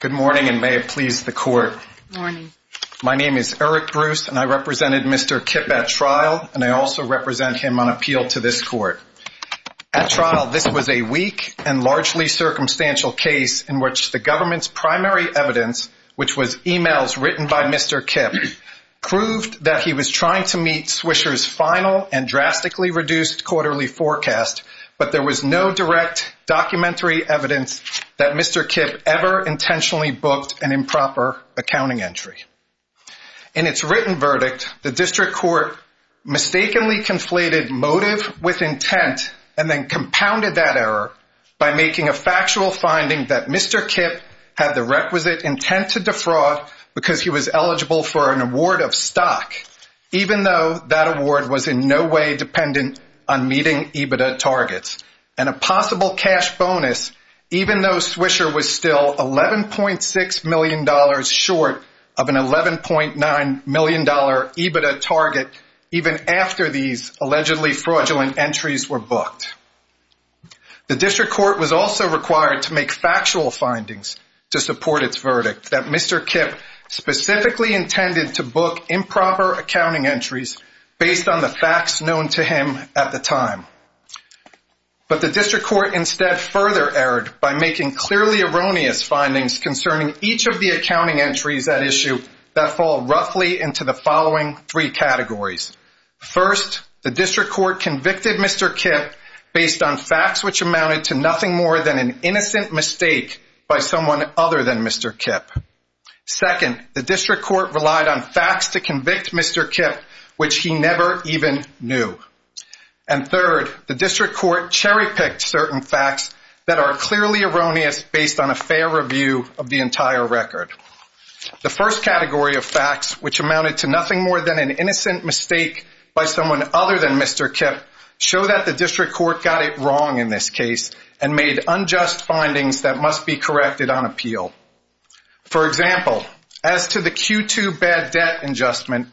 Good morning and may it please the court. Good morning. My name is Eric Bruce and I represented Mr. Kipp at trial and I also represent him on appeal to this court. At trial, this was a weak and largely circumstantial case in which the government's primary evidence, which was emails written by Mr. Kipp, proved that he was trying to meet Swisher's final and drastically reduced quarterly forecast, but there was no direct documentary evidence that Mr. Kipp ever intentionally booked an improper accounting entry. In its written verdict, the district court mistakenly conflated motive with intent and then compounded that error by making a factual finding that Mr. Kipp had the requisite intent to defraud because he was eligible for an award of stock even though that award was in no way dependent on meeting EBITDA targets and a possible cash bonus even though Swisher was still $11.6 million short of an $11.9 million EBITDA target even after these allegedly fraudulent entries were booked. The district court was also required to make factual findings to support its verdict that Mr. Kipp specifically intended to book improper accounting entries based on the facts known to him at the time, but the district court instead further erred by making clearly erroneous findings concerning each of the accounting entries at issue that fall roughly into the following three categories. First, the district court convicted Mr. Kipp based on facts which amounted to nothing more than an innocent mistake by someone other than Mr. Kipp. Second, the district court relied on facts to convict Mr. Kipp which he never even knew. And third, the district court cherry-picked certain facts that are clearly erroneous based on a fair review of the entire record. The first category of facts which amounted to nothing more than an innocent mistake by someone other than Mr. Kipp show that the district court got it wrong in this case and made unjust findings that must be corrected on appeal. For example, as to the Q2 bad debt adjustment,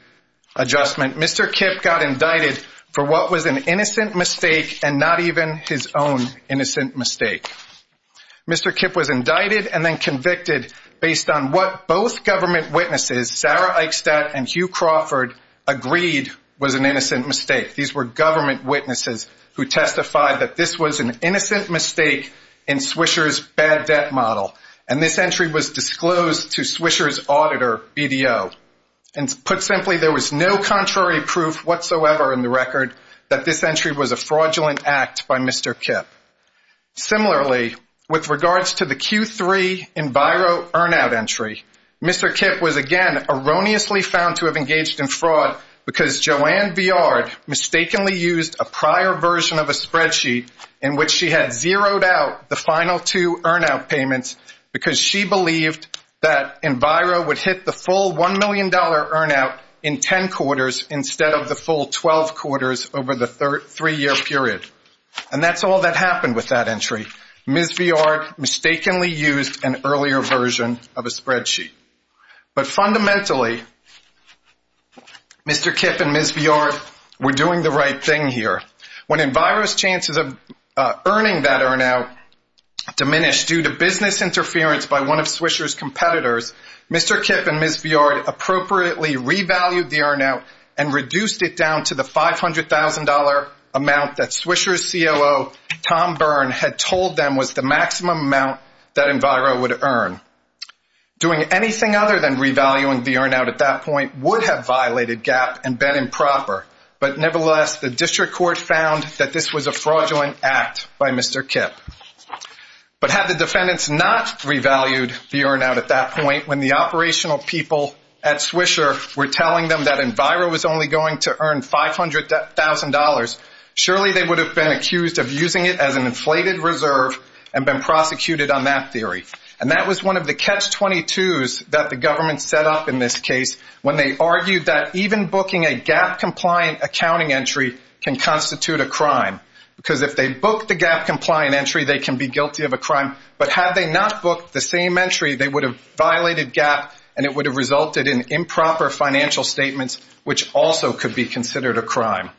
Mr. Kipp got indicted for what was an innocent mistake and not even his own innocent mistake. Mr. Kipp was indicted and then convicted based on what both government witnesses, Sarah Eichstadt and Hugh Crawford, agreed was an innocent mistake. These were government witnesses who testified that this was an innocent mistake in Swisher's bad debt model. And this entry was disclosed to Swisher's auditor, BDO. And put simply, there was no contrary proof whatsoever in the record that this entry was a fraudulent act by Mr. Kipp. Similarly, with regards to the Q3 Enviro earn-out entry, Mr. Kipp was again erroneously found to have engaged in fraud because Joanne Villard mistakenly used a prior version of a spreadsheet in which she had zeroed out the final two earn-out payments because she believed that Enviro would hit the full $1 million earn-out in 10 quarters instead of the full 12 quarters over the three-year period. And that's all that happened with that entry. Ms. Villard mistakenly used an earlier version of a spreadsheet. But fundamentally, Mr. Kipp and Ms. Villard were doing the right thing here. When Enviro's chances of earning that earn-out diminished due to business interference by one of Swisher's competitors, Mr. Kipp and Ms. Villard appropriately revalued the earn-out and reduced it down to the $500,000 amount that Swisher's COO, Tom Byrne, had told them was the maximum amount that Enviro would earn. Doing anything other than revaluing the earn-out at that point would have violated GAAP and been improper. But nevertheless, the district court found that this was a fraudulent act by Mr. Kipp. But had the defendants not revalued the earn-out at that point, when the operational people at Swisher were telling them that Enviro was only going to earn $500,000, surely they would have been accused of using it as an inflated reserve and been prosecuted on that theory. And that was one of the catch-22s that the government set up in this case when they argued that even booking a GAAP-compliant accounting entry can constitute a crime because if they book the GAAP-compliant entry, they can be guilty of a crime. But had they not booked the same entry, they would have violated GAAP and it would have resulted in improper financial statements, which also could be considered a crime.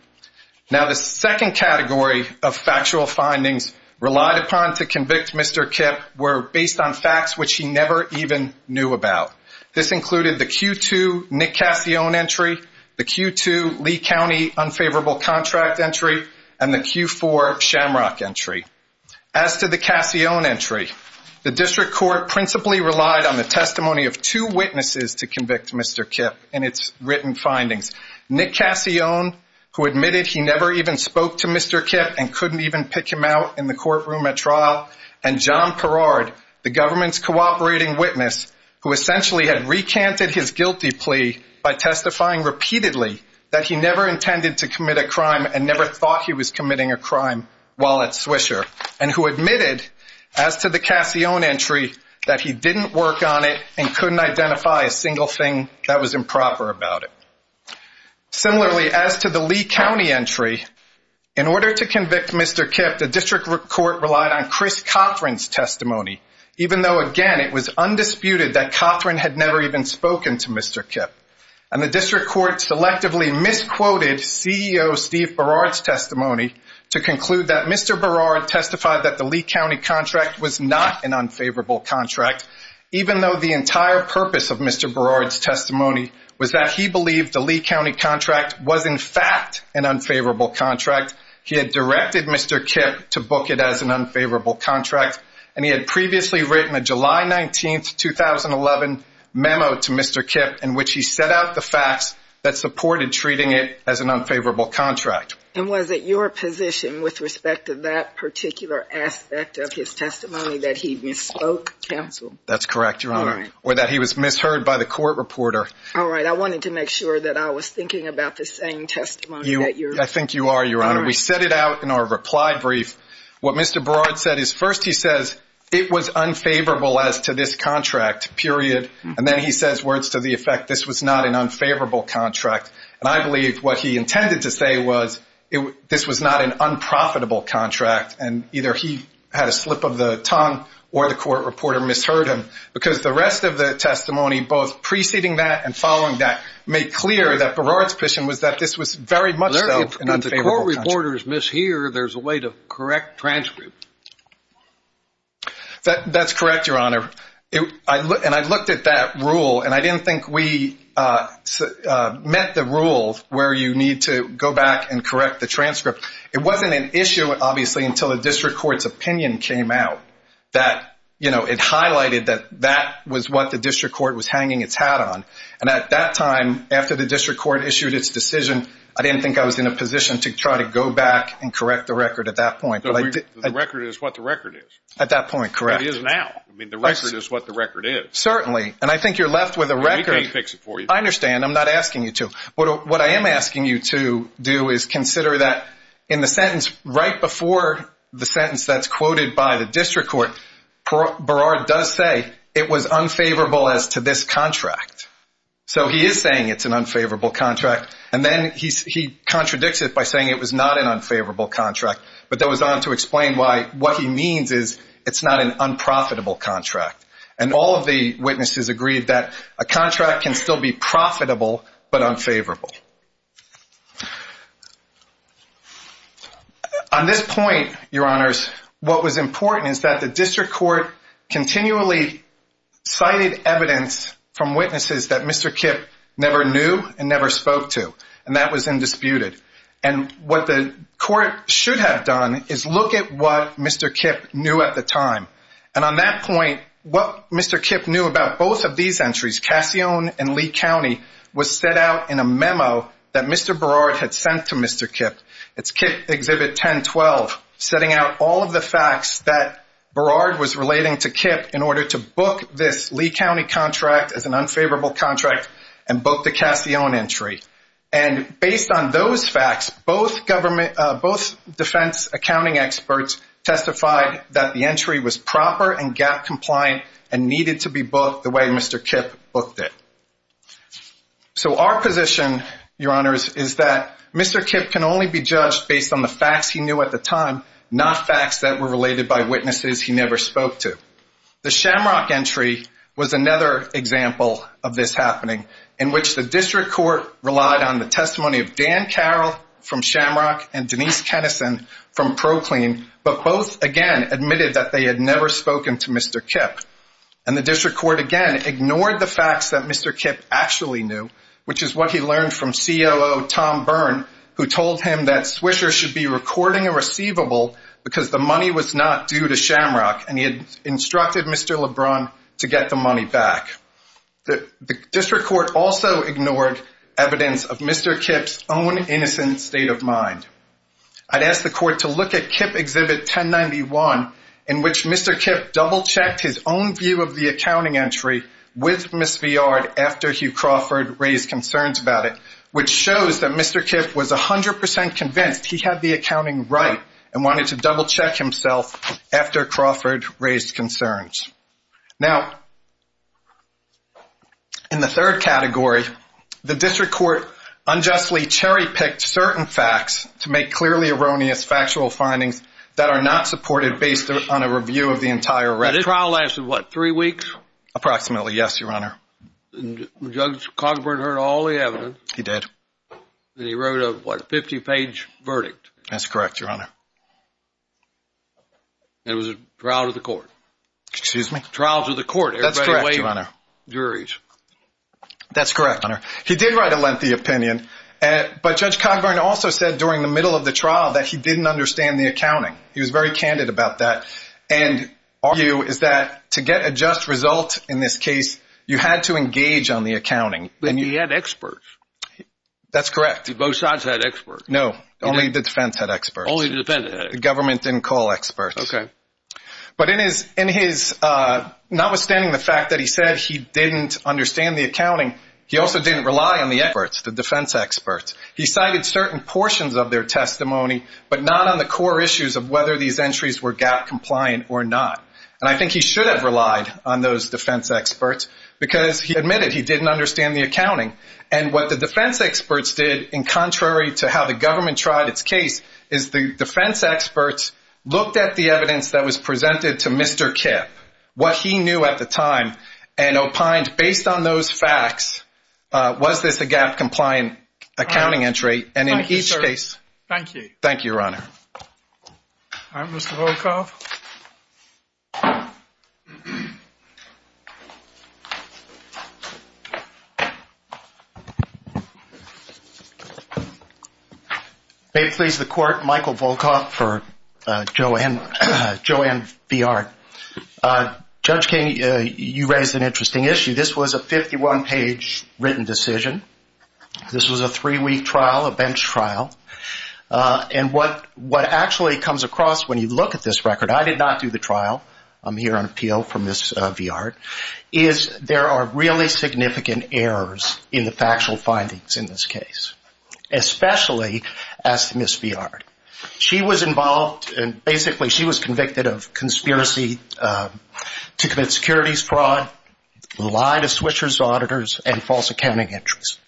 Now, the second category of factual findings relied upon to convict Mr. Kipp were based on facts which he never even knew about. This included the Q2 Nick Cassione entry, the Q2 Lee County unfavorable contract entry, and the Q4 Shamrock entry. As to the Cassione entry, the district court principally relied on the testimony of two witnesses to convict Mr. Kipp in its written findings, Nick Cassione, who admitted he never even spoke to Mr. Kipp and couldn't even pick him out in the courtroom at trial, and John Perard, the government's cooperating witness, who essentially had recanted his guilty plea by testifying repeatedly that he never intended to commit a crime and never thought he was committing a crime while at Swisher, and who admitted, as to the Cassione entry, that he didn't work on it and couldn't identify a single thing that was improper about it. Similarly, as to the Lee County entry, in order to convict Mr. Kipp, the district court relied on Chris Cothran's testimony, even though, again, it was undisputed that Cothran had never even spoken to Mr. Kipp. And the district court selectively misquoted CEO Steve Perard's testimony to conclude that Mr. Perard testified that the Lee County contract was not an unfavorable contract, even though the entire purpose of Mr. Perard's testimony was that he believed the Lee County contract was, in fact, an unfavorable contract. He had directed Mr. Kipp to book it as an unfavorable contract, and he had previously written a July 19, 2011 memo to Mr. Kipp in which he set out the facts that supported treating it as an unfavorable contract. And was it your position, with respect to that particular aspect of his testimony, that he misspoke, counsel? That's correct, Your Honor, or that he was misheard by the court reporter. All right. I wanted to make sure that I was thinking about the same testimony that you're— I think you are, Your Honor. We set it out in our reply brief. What Mr. Perard said is first he says it was unfavorable as to this contract, period, and then he says words to the effect this was not an unfavorable contract. And I believe what he intended to say was this was not an unprofitable contract, and either he had a slip of the tongue or the court reporter misheard him, because the rest of the testimony, both preceding that and following that, made clear that Perard's position was that this was very much so an unfavorable contract. When court reporters mishear, there's a way to correct transcript. That's correct, Your Honor. And I looked at that rule, and I didn't think we met the rule where you need to go back and correct the transcript. It wasn't an issue, obviously, until the district court's opinion came out that, you know, it highlighted that that was what the district court was hanging its hat on. And at that time, after the district court issued its decision, I didn't think I was in a position to try to go back and correct the record at that point. The record is what the record is. At that point, correct. It is now. I mean, the record is what the record is. Certainly. And I think you're left with a record. We can't fix it for you. I understand. I'm not asking you to. What I am asking you to do is consider that in the sentence right before the sentence that's quoted by the district court, Perard does say it was unfavorable as to this contract. So he is saying it's an unfavorable contract. And then he contradicts it by saying it was not an unfavorable contract. But that was not to explain why what he means is it's not an unprofitable contract. And all of the witnesses agreed that a contract can still be profitable but unfavorable. On this point, Your Honors, what was important is that the district court continually cited evidence from witnesses that Mr. Kipp never knew and never spoke to. And that was indisputed. And what the court should have done is look at what Mr. Kipp knew at the time. And on that point, what Mr. Kipp knew about both of these entries, Cassione and Lee County, was set out in a memo that Mr. Perard had sent to Mr. Kipp. It's Kipp Exhibit 1012, setting out all of the facts that Perard was relating to Kipp in order to book this Lee County contract as an unfavorable contract and book the Cassione entry. And based on those facts, both defense accounting experts testified that the entry was proper and gap-compliant and needed to be booked the way Mr. Kipp booked it. So our position, Your Honors, is that Mr. Kipp can only be judged based on the facts he knew at the time, not facts that were related by witnesses he never spoke to. The Shamrock entry was another example of this happening, in which the district court relied on the testimony of Dan Carroll from Shamrock and Denise Kennison from Proclaim, but both, again, admitted that they had never spoken to Mr. Kipp. And the district court, again, ignored the facts that Mr. Kipp actually knew, which is what he learned from COO Tom Byrne, who told him that Swisher should be recording a receivable because the money was not due to Shamrock, and he had instructed Mr. LeBron to get the money back. The district court also ignored evidence of Mr. Kipp's own innocent state of mind. I'd ask the court to look at Kipp Exhibit 1091, in which Mr. Kipp double-checked his own view of the accounting entry with Ms. Viard after Hugh Crawford raised concerns about it, which shows that Mr. Kipp was 100% convinced he had the accounting right and wanted to double-check himself after Crawford raised concerns. Now, in the third category, the district court unjustly cherry-picked certain facts to make clearly erroneous factual findings that are not supported based on a review of the entire record. Now, this trial lasted, what, three weeks? Approximately, yes, Your Honor. And Judge Cogburn heard all the evidence. He did. And he wrote a, what, 50-page verdict. That's correct, Your Honor. And it was a trial to the court. Excuse me? A trial to the court. That's correct, Your Honor. Everybody away from the juries. That's correct, Your Honor. He did write a lengthy opinion, but Judge Cogburn also said during the middle of the trial that he didn't understand the accounting. He was very candid about that. And our view is that to get a just result in this case, you had to engage on the accounting. But he had experts. That's correct. Both sides had experts. No, only the defense had experts. Only the defense had experts. The government didn't call experts. Okay. But in his, notwithstanding the fact that he said he didn't understand the accounting, he also didn't rely on the experts, the defense experts. He cited certain portions of their testimony, but not on the core issues of whether these entries were GAP compliant or not. And I think he should have relied on those defense experts because he admitted he didn't understand the accounting. And what the defense experts did, in contrary to how the government tried its case, is the defense experts looked at the evidence that was presented to Mr. Kipp, what he knew at the time, and opined based on those facts, was this a GAP compliant accounting entry? And in each case. Thank you. Thank you, Your Honor. All right. Mr. Volkoff. May it please the Court. Michael Volkoff for Joanne VR. Judge King, you raised an interesting issue. This was a 51-page written decision. This was a three-week trial, a bench trial. And what actually comes across when you look at this record, I did not do the trial. I'm here on appeal for Ms. Viard, is there are really significant errors in the factual findings in this case, especially as to Ms. Viard. She was involved and basically she was convicted of conspiracy to commit securities fraud, lie to switchers, auditors, and false accounting entries.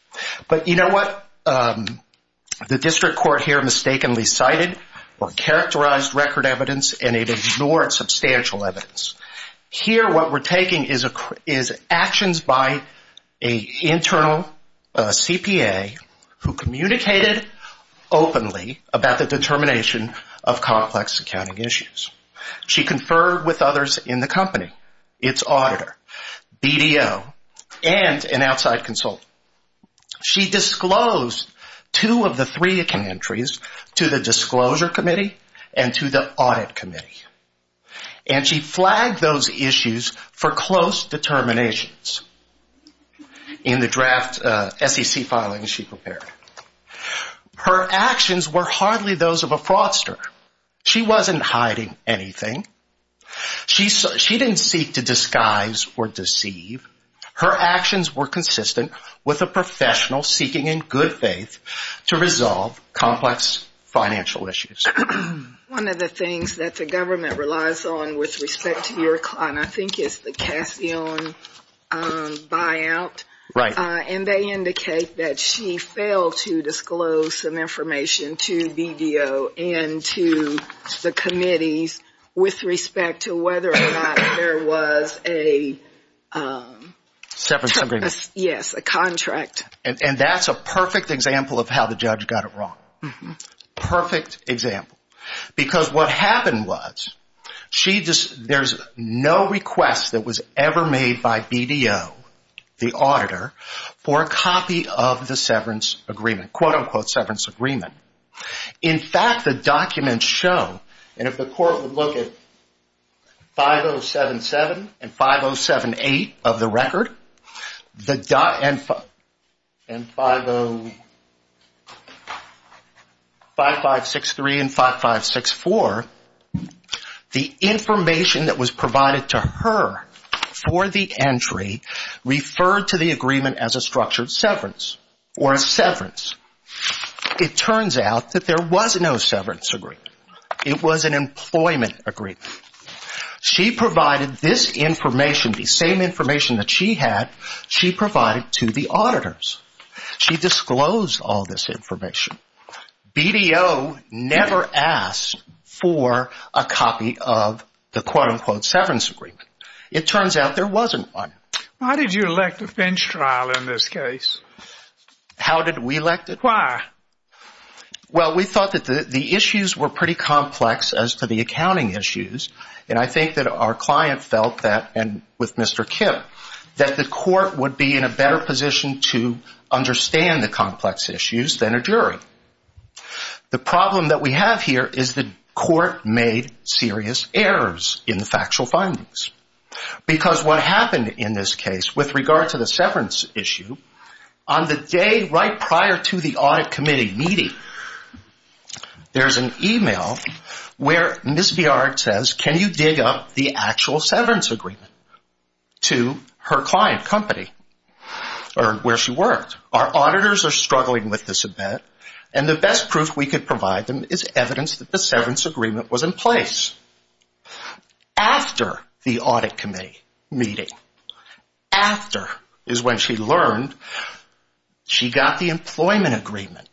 But you know what? The district court here mistakenly cited or characterized record evidence and it ignored substantial evidence. Here what we're taking is actions by an internal CPA who communicated openly about the determination of complex accounting issues. She conferred with others in the company, its auditor, BDO, and an outside consultant. She disclosed two of the three accounting entries to the disclosure committee and to the audit committee. And she flagged those issues for close determinations in the draft SEC filings she prepared. Her actions were hardly those of a fraudster. She wasn't hiding anything. She didn't seek to disguise or deceive. Her actions were consistent with a professional seeking in good faith to resolve complex financial issues. One of the things that the government relies on with respect to your client I think is the Cassion buyout. Right. And they indicate that she failed to disclose some information to BDO and to the committees with respect to whether or not there was a contract. And that's a perfect example of how the judge got it wrong. Perfect example. Because what happened was there's no request that was ever made by BDO, the auditor, for a copy of the severance agreement, quote unquote severance agreement. In fact, the documents show, and if the court would look at 5077 and 5078 of the record, and 50, 5563 and 5564, the information that was provided to her for the entry referred to the agreement as a structured severance or a severance. It turns out that there was no severance agreement. It was an employment agreement. She provided this information, the same information that she had, she provided to the auditors. She disclosed all this information. BDO never asked for a copy of the quote unquote severance agreement. It turns out there wasn't one. Why did you elect a bench trial in this case? How did we elect it? Why? Well, we thought that the issues were pretty complex as to the accounting issues. And I think that our client felt that, and with Mr. Kipp, that the court would be in a better position to understand the complex issues than a jury. The problem that we have here is the court made serious errors in the factual findings. Because what happened in this case with regard to the severance issue, on the day right prior to the audit committee meeting, there's an e-mail where Ms. Biard says, can you dig up the actual severance agreement to her client company or where she worked? Our auditors are struggling with this event, and the best proof we could provide them is evidence that the severance agreement was in place. After the audit committee meeting, after is when she learned she got the employment agreement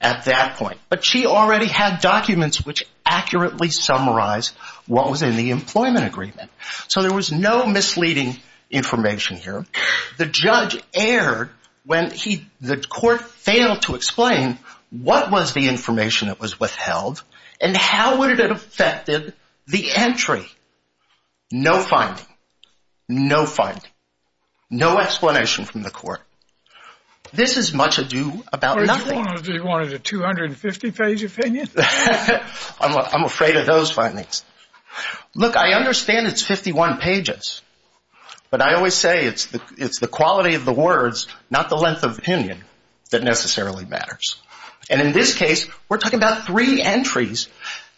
at that point. But she already had documents which accurately summarized what was in the employment agreement. So there was no misleading information here. The judge erred when the court failed to explain what was the information that was withheld and how would it have affected the entry. No finding. No finding. No explanation from the court. This is much ado about nothing. You wanted a 250 page opinion? I'm afraid of those findings. Look, I understand it's 51 pages. But I always say it's the quality of the words, not the length of opinion, that necessarily matters. And in this case, we're talking about three entries.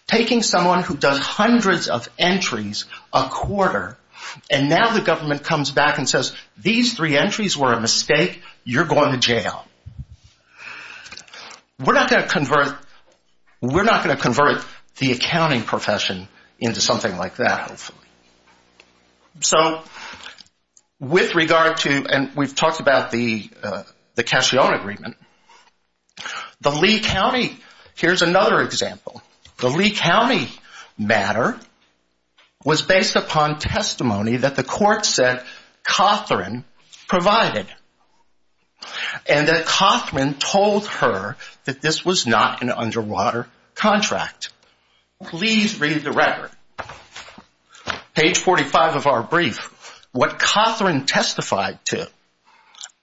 Taking someone who does hundreds of entries a quarter, and now the government comes back and says, these three entries were a mistake. You're going to jail. We're not going to convert the accounting profession into something like that, hopefully. So with regard to, and we've talked about the Cassione agreement. The Lee County, here's another example. The Lee County matter was based upon testimony that the court said Cothran provided. And that Cothran told her that this was not an underwater contract. Please read the record. Page 45 of our brief. What Cothran testified to.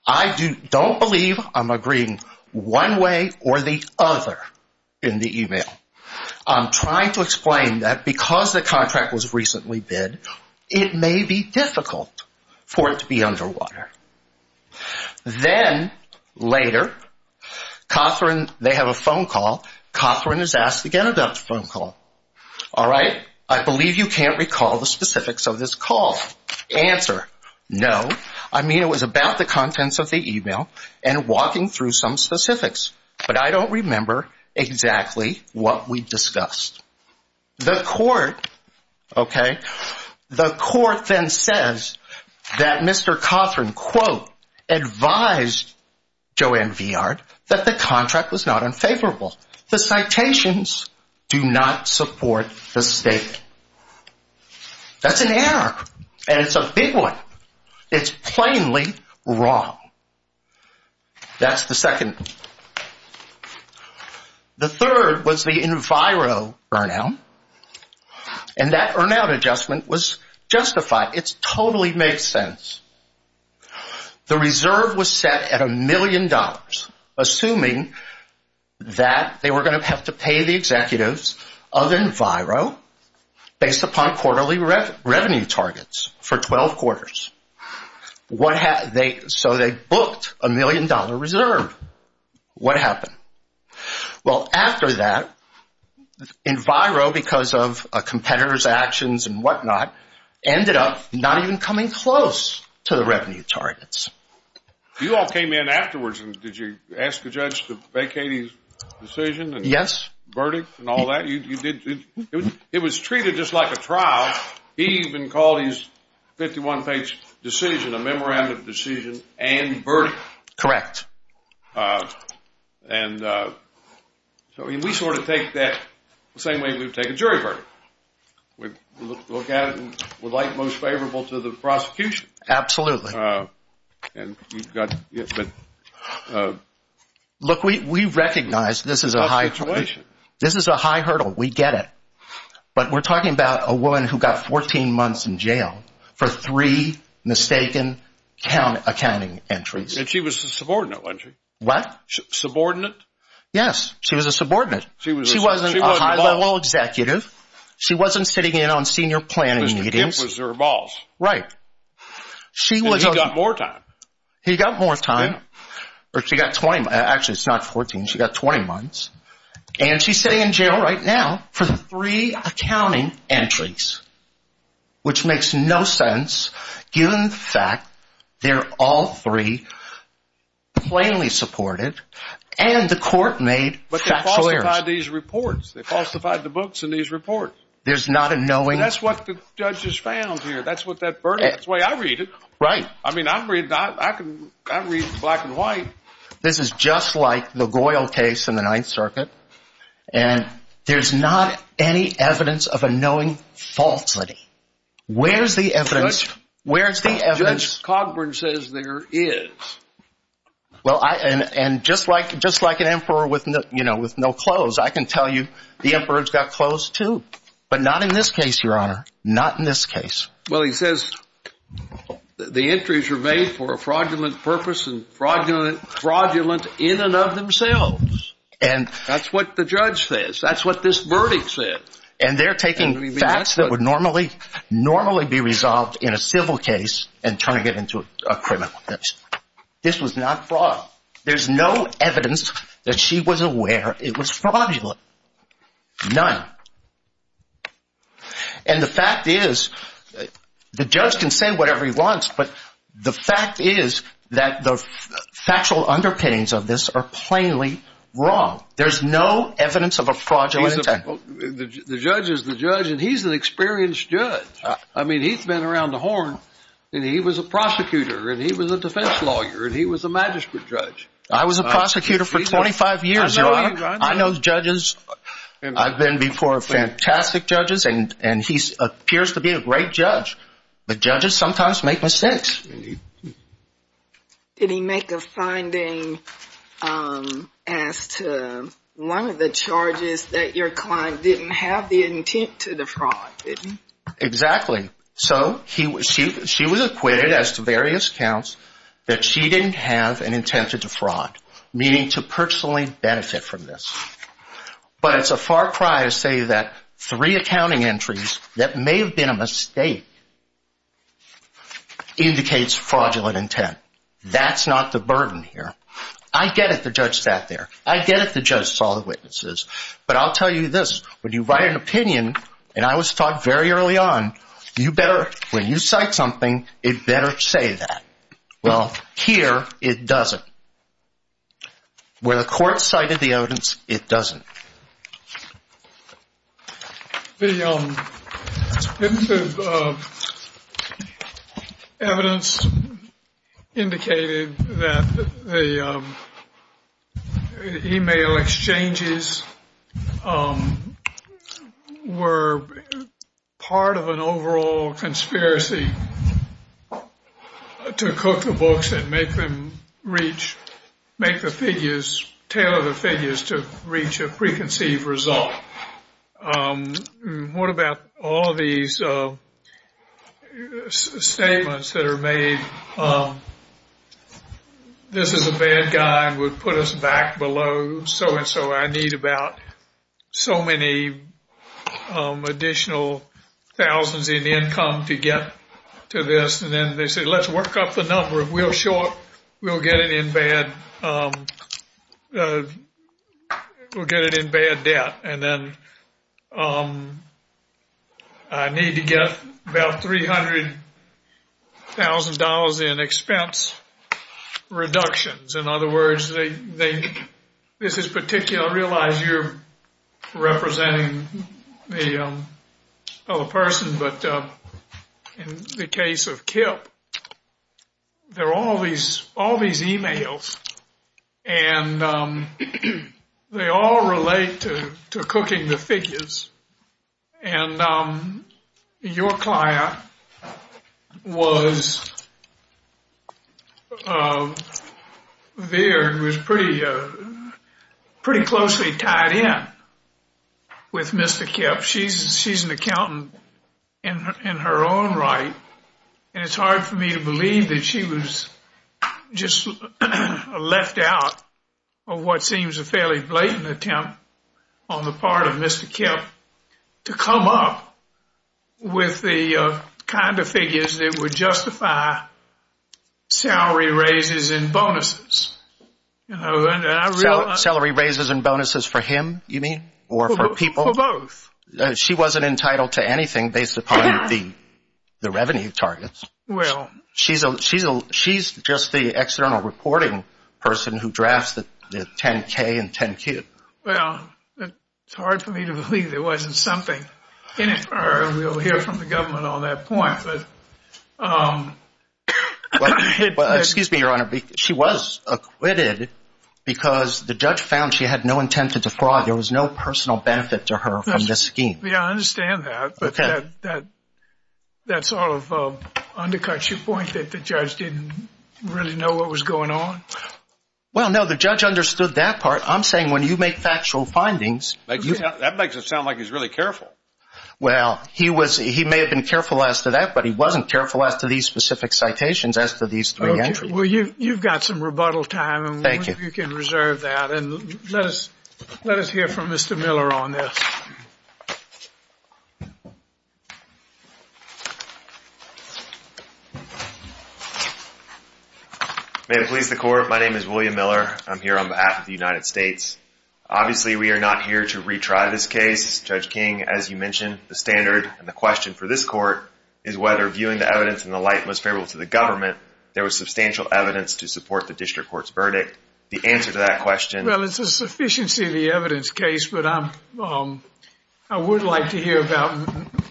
I don't believe I'm agreeing one way or the other in the email. I'm trying to explain that because the contract was recently bid, it may be difficult for it to be underwater. Then later, Cothran, they have a phone call. Cothran is asked to get another phone call. All right. I believe you can't recall the specifics of this call. Answer, no. I mean it was about the contents of the email and walking through some specifics. But I don't remember exactly what we discussed. The court, okay. The court then says that Mr. Cothran, quote, advised Joanne Viard that the contract was not unfavorable. The citations do not support the statement. That's an error. And it's a big one. It's plainly wrong. That's the second. The third was the enviro burnout. And that burnout adjustment was justified. It totally makes sense. The reserve was set at a million dollars, assuming that they were going to have to pay the executives of enviro based upon quarterly revenue targets for 12 quarters. So they booked a million dollar reserve. What happened? Well, after that, enviro, because of a competitor's actions and whatnot, ended up not even coming close to the revenue targets. You all came in afterwards and did you ask the judge to vacate his decision and verdict and all that? It was treated just like a trial. He even called his 51-page decision a memorandum of decision and verdict. Correct. And so we sort of take that the same way we take a jury verdict. We look at it and would like most favorable to the prosecution. Absolutely. And you've got – Look, we recognize this is a high hurdle. We get it. But we're talking about a woman who got 14 months in jail for three mistaken accounting entries. And she was a subordinate, wasn't she? What? Subordinate? Yes, she was a subordinate. She wasn't a high-level executive. She wasn't sitting in on senior planning meetings. Mr. Gimp was her boss. Right. And he got more time. He got more time. Actually, it's not 14. She got 20 months. And she's sitting in jail right now for three accounting entries, which makes no sense given the fact they're all three plainly supported and the court made factual errors. But they falsified these reports. They falsified the books in these reports. There's not a knowing. That's what the judge has found here. That's what that verdict is. That's the way I read it. Right. I mean, I read black and white. This is just like the Goyle case in the Ninth Circuit. And there's not any evidence of a knowing falsity. Where's the evidence? Where's the evidence? Judge Cogburn says there is. Well, and just like an emperor with no clothes, I can tell you the emperor's got clothes, too. But not in this case, Your Honor. Not in this case. Well, he says the entries are made for a fraudulent purpose and fraudulent in and of themselves. And that's what the judge says. That's what this verdict said. And they're taking facts that would normally be resolved in a civil case and turning it into a criminal case. This was not fraud. There's no evidence that she was aware it was fraudulent. None. And the fact is, the judge can say whatever he wants, but the fact is that the factual underpinnings of this are plainly wrong. There's no evidence of a fraudulent act. The judge is the judge, and he's an experienced judge. I mean, he's been around the horn, and he was a prosecutor, and he was a defense lawyer, and he was a magistrate judge. I was a prosecutor for 25 years, Your Honor. I know judges. I've been before fantastic judges, and he appears to be a great judge. But judges sometimes make mistakes. Did he make a finding as to one of the charges that your client didn't have the intent to defraud? Exactly. So she was acquitted as to various counts that she didn't have an intent to defraud, meaning to personally benefit from this. But it's a far cry to say that three accounting entries that may have been a mistake indicates fraudulent intent. That's not the burden here. I get it the judge sat there. I get it the judge saw the witnesses. But I'll tell you this. When you write an opinion, and I was taught very early on, when you cite something, it better say that. Well, here it doesn't. Where the court cited the evidence, it doesn't. The evidence indicated that the e-mail exchanges were part of an overall conspiracy to cook the books and make them reach, make the figures, tailor the figures to reach a preconceived result. What about all of these statements that are made, this is a bad guy and would put us back below so and so? I need about so many additional thousands in income to get to this. And then they say, let's work up the number. We'll show up. We'll get it in bad. We'll get it in bad debt. And then I need to get about $300,000 in expense reductions. In other words, this is particular. I realize you're representing the other person, but in the case of Kip, there are all these e-mails. And they all relate to cooking the figures. And your client was pretty closely tied in with Mr. Kip. She's an accountant in her own right. And it's hard for me to believe that she was just left out of what seems a fairly blatant attempt on the part of Mr. Kip to come up with the kind of figures that would justify salary raises and bonuses. Salary raises and bonuses for him, you mean, or for people? For both. She wasn't entitled to anything based upon the revenue targets. She's just the external reporting person who drafts the 10-K and 10-Q. Well, it's hard for me to believe there wasn't something in it. We'll hear from the government on that point. Excuse me, Your Honor. She was acquitted because the judge found she had no intent to defraud. There was no personal benefit to her from this scheme. Yeah, I understand that. But that sort of undercuts your point that the judge didn't really know what was going on? Well, no, the judge understood that part. I'm saying when you make factual findings. That makes it sound like he's really careful. Well, he may have been careful as to that, but he wasn't careful as to these specific citations, as to these three entries. Well, you've got some rebuttal time. Thank you. You can reserve that. And let us hear from Mr. Miller on this. May it please the Court, my name is William Miller. I'm here on behalf of the United States. Obviously, we are not here to retry this case. Judge King, as you mentioned, the standard and the question for this court is whether, viewing the evidence in the light most favorable to the government, there was substantial evidence to support the district court's verdict. The answer to that question— Well, it's a sufficiency of the evidence case, but I would like to hear about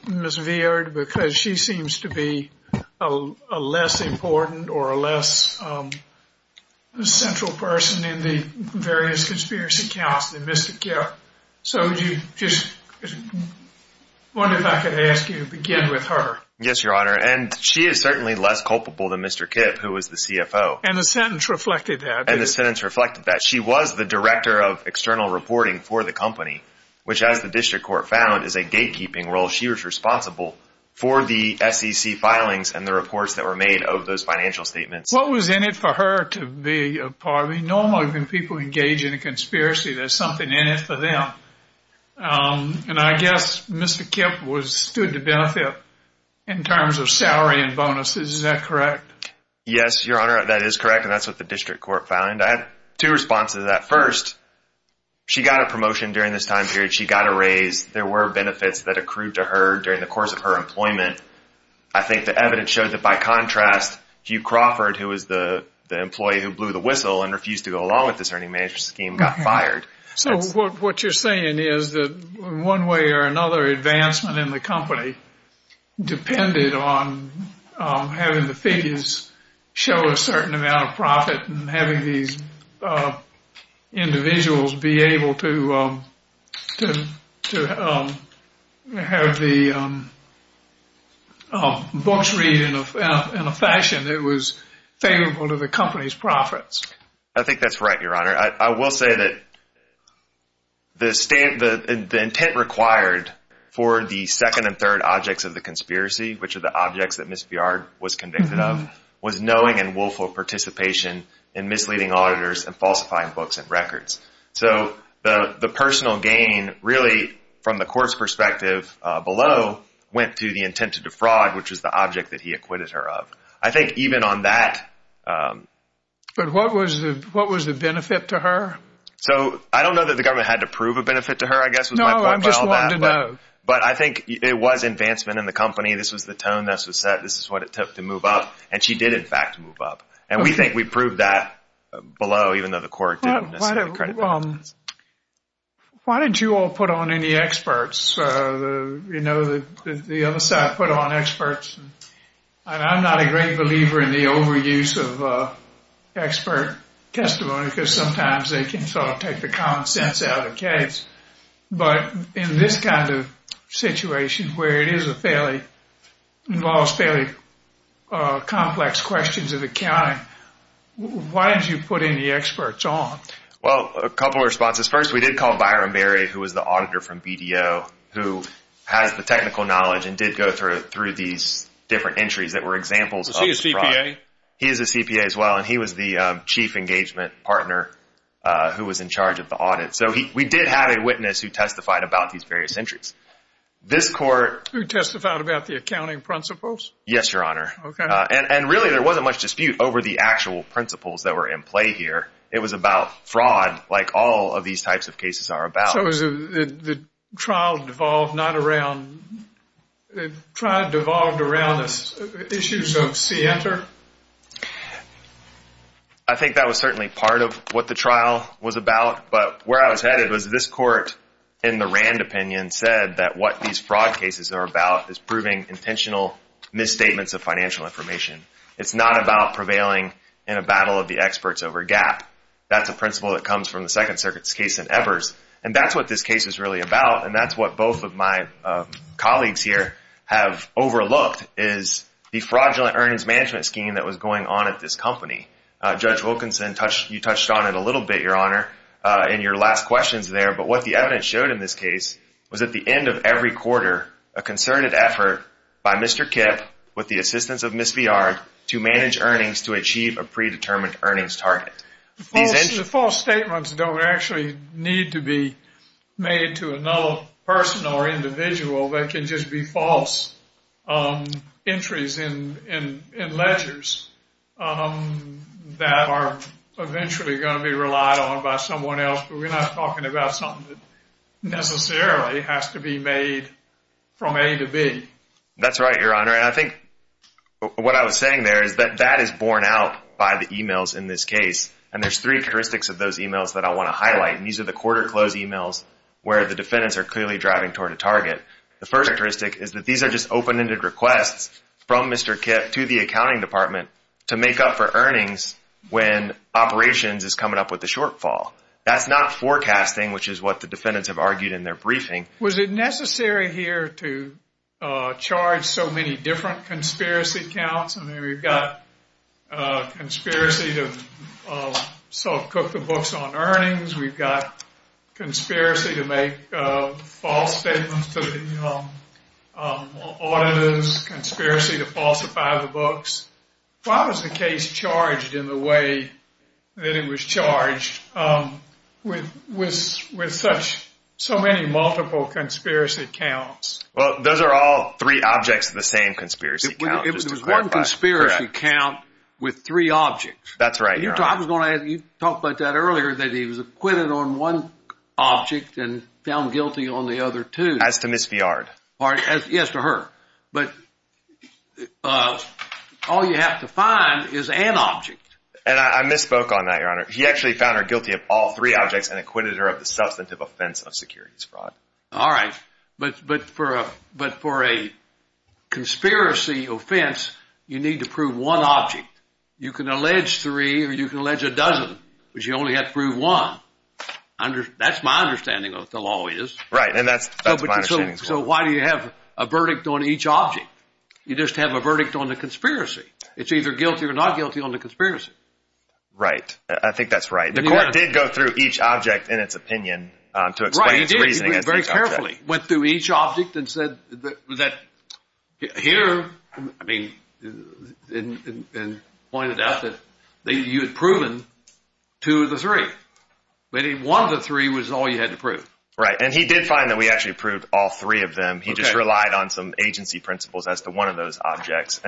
Ms. Veard because she seems to be a less important or a less central person in the various conspiracy accounts than Mr. Kipp. So, I wonder if I could ask you to begin with her. Yes, Your Honor. And she is certainly less culpable than Mr. Kipp, who was the CFO. And the sentence reflected that. And the sentence reflected that. She was the director of external reporting for the company, which, as the district court found, is a gatekeeping role. She was responsible for the SEC filings and the reports that were made of those financial statements. What was in it for her to be a part of it? Normally, when people engage in a conspiracy, there's something in it for them. And I guess Mr. Kipp stood to benefit in terms of salary and bonuses. Is that correct? Yes, Your Honor, that is correct. And that's what the district court found. I had two responses to that. First, she got a promotion during this time period. She got a raise. There were benefits that accrued to her during the course of her employment. I think the evidence showed that, by contrast, Hugh Crawford, who was the employee who blew the whistle and refused to go along with this earnings management scheme, got fired. So, what you're saying is that one way or another, advancement in the company depended on having the figures show a certain amount of profit and having these individuals be able to have the books read in a fashion that was favorable to the company's profits. I think that's right, Your Honor. I will say that the intent required for the second and third objects of the conspiracy, which are the objects that Ms. Biard was convicted of, was knowing and willful participation in misleading auditors and falsifying books and records. So, the personal gain, really, from the court's perspective below, went to the intent to defraud, which was the object that he acquitted her of. I think even on that… But what was the benefit to her? So, I don't know that the government had to prove a benefit to her, I guess, was my point. No, I'm just wanting to know. But I think it was advancement in the company. This was the tone that was set. This is what it took to move up. And she did, in fact, move up. And we think we proved that below, even though the court didn't necessarily… Why don't you all put on any experts? You know, the other side put on experts. And I'm not a great believer in the overuse of expert testimony, because sometimes they can sort of take the common sense out of the case. But in this kind of situation, where it involves fairly complex questions of accounting, why did you put any experts on? Well, a couple of responses. First, we did call Byron Berry, who was the auditor from BDO, who has the technical knowledge and did go through these different entries that were examples of fraud. Is he a CPA? He is a CPA as well. And he was the chief engagement partner who was in charge of the audit. So we did have a witness who testified about these various entries. This court… Who testified about the accounting principles? Yes, Your Honor. Okay. And really, there wasn't much dispute over the actual principles that were in play here. It was about fraud, like all of these types of cases are about. So the trial devolved not around… The trial devolved around issues of SIENTA? I think that was certainly part of what the trial was about. But where I was headed was this court, in the Rand opinion, said that what these fraud cases are about is proving intentional misstatements of financial information. It's not about prevailing in a battle of the experts over a gap. That's a principle that comes from the Second Circuit's case in Evers. And that's what this case is really about. And that's what both of my colleagues here have overlooked is the fraudulent earnings management scheme that was going on at this company. Judge Wilkinson, you touched on it a little bit, Your Honor, in your last questions there. But what the evidence showed in this case was at the end of every quarter, a concerted effort by Mr. Kipp with the assistance of Ms. Viard to manage earnings to achieve a predetermined earnings target. False statements don't actually need to be made to another person or individual. They can just be false entries in ledgers that are eventually going to be relied on by someone else. But we're not talking about something that necessarily has to be made from A to B. That's right, Your Honor. And I think what I was saying there is that that is borne out by the e-mails in this case. And there's three characteristics of those e-mails that I want to highlight. And these are the quarter close e-mails where the defendants are clearly driving toward a target. The first characteristic is that these are just open-ended requests from Mr. Kipp to the accounting department to make up for earnings when operations is coming up with a shortfall. That's not forecasting, which is what the defendants have argued in their briefing. Was it necessary here to charge so many different conspiracy counts? I mean, we've got conspiracy to self-cook the books on earnings. We've got conspiracy to make false statements to the auditors, conspiracy to falsify the books. Why was the case charged in the way that it was charged with so many multiple conspiracy counts? Well, those are all three objects of the same conspiracy count, just to clarify. It was one conspiracy count with three objects. That's right, Your Honor. You talked about that earlier, that he was acquitted on one object and found guilty on the other two. As to Miss Viard. Yes, to her. But all you have to find is an object. And I misspoke on that, Your Honor. He actually found her guilty of all three objects and acquitted her of the substantive offense of securities fraud. All right. But for a conspiracy offense, you need to prove one object. You can allege three or you can allege a dozen, but you only have to prove one. That's my understanding of what the law is. Right, and that's my understanding as well. So why do you have a verdict on each object? You just have a verdict on the conspiracy. It's either guilty or not guilty on the conspiracy. Right. I think that's right. The court did go through each object in its opinion to explain its reasoning against each object. Right, he did. He went through each object and said that here, I mean, and pointed out that you had proven two of the three. One of the three was all you had to prove. Right. And he did find that we actually proved all three of them. He just relied on some agency principles as to one of those objects.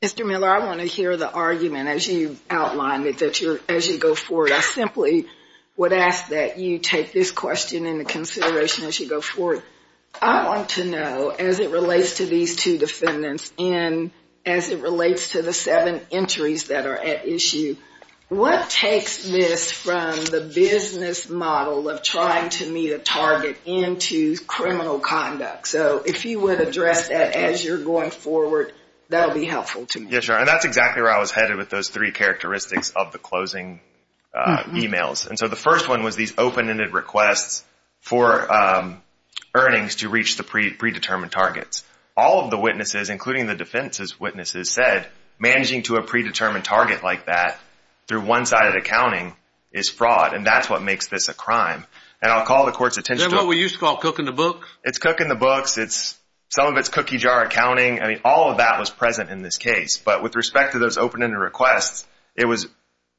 Mr. Miller, I want to hear the argument as you outlined it, as you go forward. I simply would ask that you take this question into consideration as you go forward. I want to know, as it relates to these two defendants and as it relates to the seven entries that are at issue, what takes this from the business model of trying to meet a target into criminal conduct? So if you would address that as you're going forward, that will be helpful to me. Yeah, sure. And that's exactly where I was headed with those three characteristics of the closing emails. And so the first one was these open-ended requests for earnings to reach the predetermined targets. All of the witnesses, including the defense's witnesses, said managing to a predetermined target like that through one-sided accounting is fraud, and that's what makes this a crime. And I'll call the court's attention to it. Isn't that what we used to call cooking the books? It's cooking the books. Some of it's cookie jar accounting. I mean, all of that was present in this case. But with respect to those open-ended requests, it was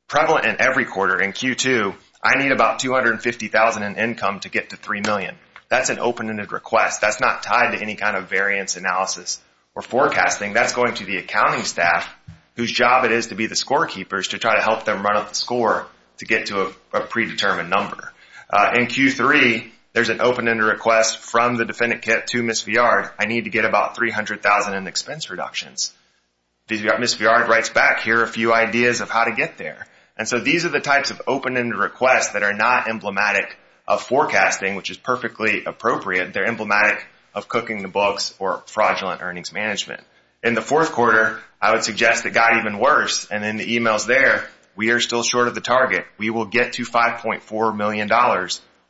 prevalent in every quarter. In Q2, I need about $250,000 in income to get to $3 million. That's an open-ended request. That's not tied to any kind of variance analysis or forecasting. That's going to the accounting staff, whose job it is to be the scorekeepers, to try to help them run up the score to get to a predetermined number. In Q3, there's an open-ended request from the defendant kit to Ms. Viard. I need to get about $300,000 in expense reductions. Ms. Viard writes back, here are a few ideas of how to get there. And so these are the types of open-ended requests that are not emblematic of forecasting, which is perfectly appropriate. They're emblematic of cooking the books or fraudulent earnings management. In the fourth quarter, I would suggest it got even worse. And in the emails there, we are still short of the target. We will get to $5.4 million.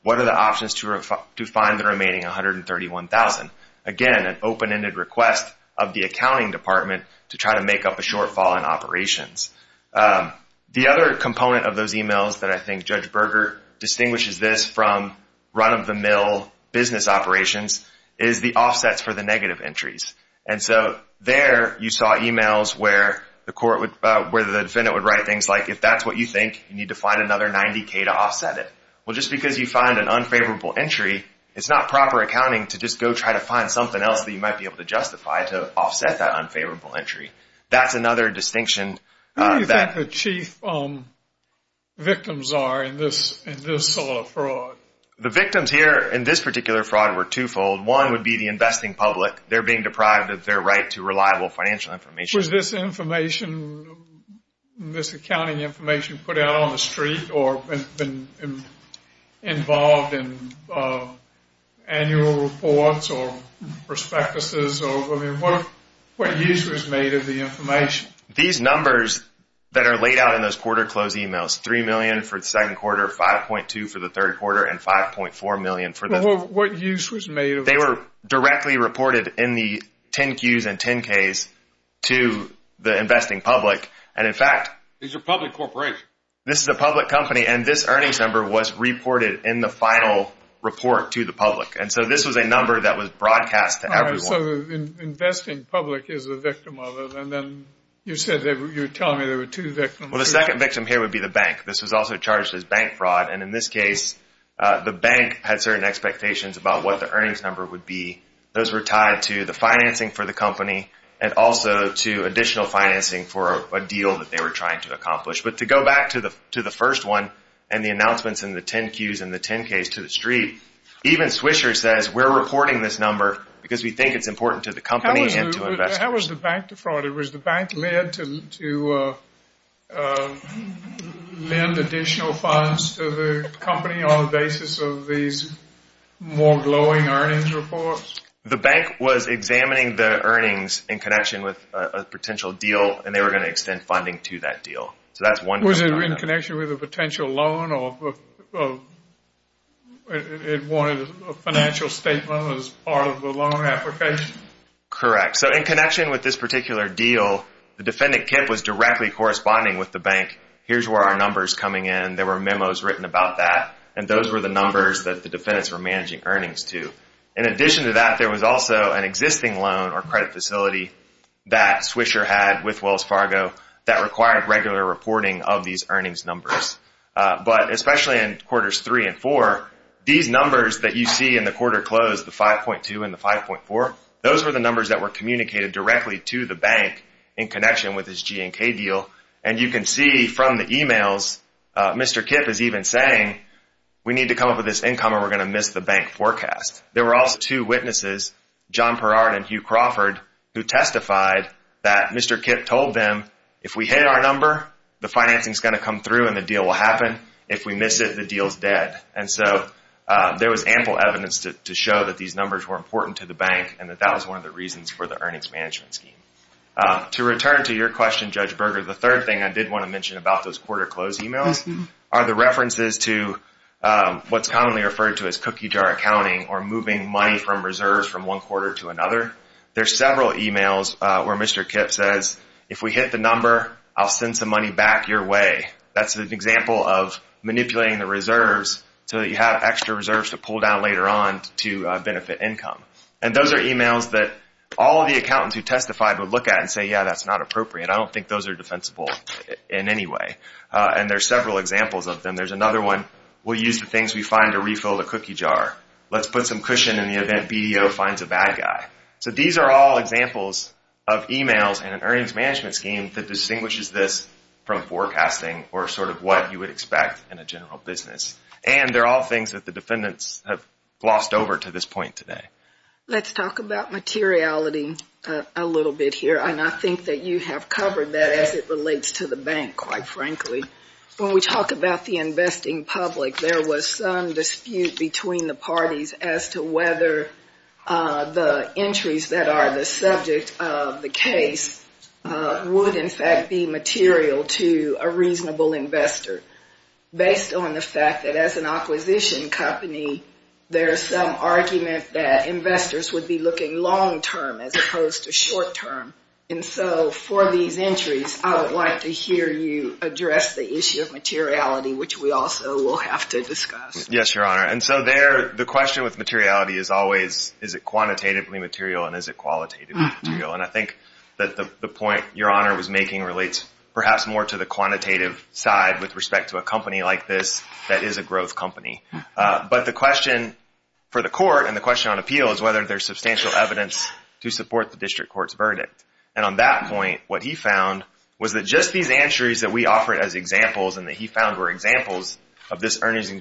What are the options to find the remaining $131,000? Again, an open-ended request of the accounting department to try to make up a shortfall in operations. The other component of those emails that I think Judge Berger distinguishes this from run-of-the-mill business operations is the offsets for the negative entries. And so there you saw emails where the defendant would write things like, if that's what you think, you need to find another $90,000 to offset it. Well, just because you find an unfavorable entry, it's not proper accounting to just go try to find something else that you might be able to justify to offset that unfavorable entry. That's another distinction. Who do you think the chief victims are in this sort of fraud? The victims here in this particular fraud were twofold. One would be the investing public. They're being deprived of their right to reliable financial information. Was this information, this accounting information, put out on the street or been involved in annual reports or prospectuses? I mean, what use was made of the information? These numbers that are laid out in those quarter close emails, $3 million for the second quarter, $5.2 million for the third quarter, and $5.4 million for the… Well, what use was made of it? They were directly reported in the 10-Qs and 10-Ks to the investing public. And in fact… These are public corporations. This is a public company, and this earnings number was reported in the final report to the public. And so this was a number that was broadcast to everyone. So the investing public is a victim of it. And then you said you were telling me there were two victims. Well, the second victim here would be the bank. This was also charged as bank fraud. And in this case, the bank had certain expectations about what the earnings number would be. Those were tied to the financing for the company and also to additional financing for a deal that they were trying to accomplish. But to go back to the first one and the announcements in the 10-Qs and the 10-Ks to the street, even Swisher says we're reporting this number because we think it's important to the company and to investors. How was the bank defrauded? Was the bank led to lend additional funds to the company on the basis of these more glowing earnings reports? The bank was examining the earnings in connection with a potential deal, and they were going to extend funding to that deal. Was it in connection with a potential loan or it wanted a financial statement as part of the loan application? Correct. So in connection with this particular deal, the defendant KIPP was directly corresponding with the bank. Here's where our number's coming in. There were memos written about that. And those were the numbers that the defendants were managing earnings to. In addition to that, there was also an existing loan or credit facility that Swisher had with Wells Fargo that required regular reporting of these earnings numbers. But especially in quarters three and four, these numbers that you see in the quarter close, the 5.2 and the 5.4, those were the numbers that were communicated directly to the bank in connection with this G&K deal. And you can see from the e-mails, Mr. KIPP is even saying, we need to come up with this income or we're going to miss the bank forecast. There were also two witnesses, John Perard and Hugh Crawford, who testified that Mr. KIPP told them, if we hit our number, the financing's going to come through and the deal will happen. If we miss it, the deal's dead. And so there was ample evidence to show that these numbers were important to the bank and that that was one of the reasons for the earnings management scheme. To return to your question, Judge Berger, the third thing I did want to mention about those quarter close e-mails are the references to what's commonly referred to as cookie jar accounting or moving money from reserves from one quarter to another. There's several e-mails where Mr. KIPP says, if we hit the number, I'll send some money back your way. That's an example of manipulating the reserves so that you have extra reserves to pull down later on to benefit income. And those are e-mails that all of the accountants who testified would look at and say, yeah, that's not appropriate. I don't think those are defensible in any way. And there's several examples of them. And there's another one, we'll use the things we find to refill the cookie jar. Let's put some cushion in the event BDO finds a bad guy. So these are all examples of e-mails in an earnings management scheme that distinguishes this from forecasting or sort of what you would expect in a general business. And they're all things that the defendants have glossed over to this point today. Let's talk about materiality a little bit here. And I think that you have covered that as it relates to the bank, quite frankly. When we talk about the investing public, there was some dispute between the parties as to whether the entries that are the subject of the case would, in fact, be material to a reasonable investor. Based on the fact that as an acquisition company, there's some argument that investors would be looking long-term as opposed to short-term. And so for these entries, I would like to hear you address the issue of materiality, which we also will have to discuss. Yes, Your Honor. And so the question with materiality is always, is it quantitatively material and is it qualitatively material? And I think that the point Your Honor was making relates perhaps more to the quantitative side with respect to a company like this that is a growth company. But the question for the court and the question on appeal is whether there's substantial evidence to support the district court's verdict. And on that point, what he found was that just these entries that we offered as examples and that he found were examples of this earnings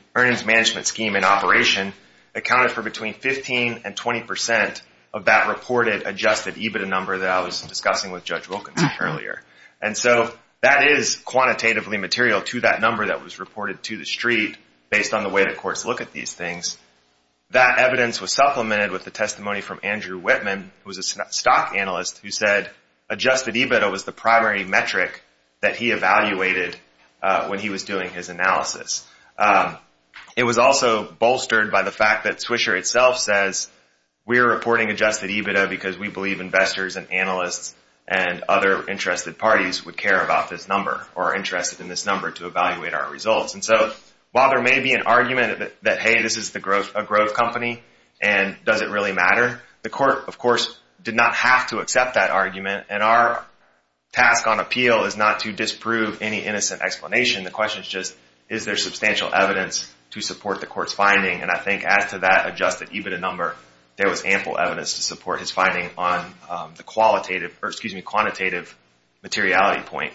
management scheme in operation accounted for between 15% and 20% of that reported adjusted EBITDA number that I was discussing with Judge Wilkinson earlier. And so that is quantitatively material to that number that was reported to the street based on the way the courts look at these things. That evidence was supplemented with the testimony from Andrew Whitman, who was a stock analyst, who said adjusted EBITDA was the primary metric that he evaluated when he was doing his analysis. It was also bolstered by the fact that Swisher itself says, we're reporting adjusted EBITDA because we believe investors and analysts and other interested parties would care about this number or are interested in this number to evaluate our results. And so while there may be an argument that, hey, this is a growth company and does it really matter? The court, of course, did not have to accept that argument and our task on appeal is not to disprove any innocent explanation. The question is just, is there substantial evidence to support the court's finding? And I think as to that adjusted EBITDA number, there was ample evidence to support his finding on the quantitative materiality point.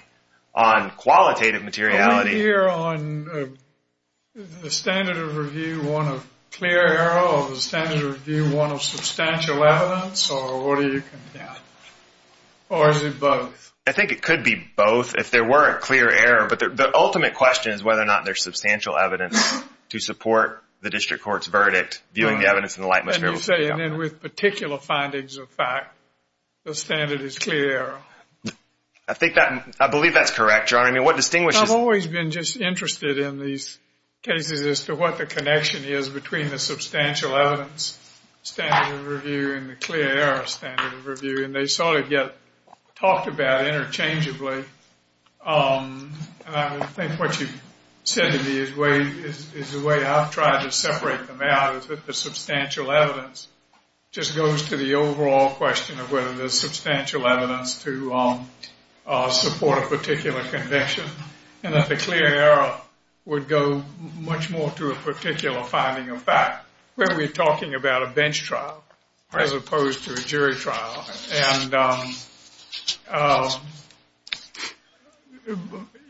On qualitative materiality? Do we hear on the standard of review one of clear error or the standard of review one of substantial evidence? Or what do you think? Or is it both? I think it could be both if there were a clear error. But the ultimate question is whether or not there's substantial evidence to support the district court's verdict, viewing the evidence in the light most favorable. And you say, and then with particular findings of fact, the standard is clear error. I believe that's correct, John. I mean, what distinguishes... I've always been just interested in these cases as to what the connection is between the substantial evidence standard of review and the clear error standard of review. And they sort of get talked about interchangeably. And I think what you said to me is the way I've tried to separate them out is that the substantial evidence just goes to the overall question of whether there's substantial evidence to support a particular conviction and that the clear error would go much more to a particular finding of fact. We're talking about a bench trial as opposed to a jury trial. And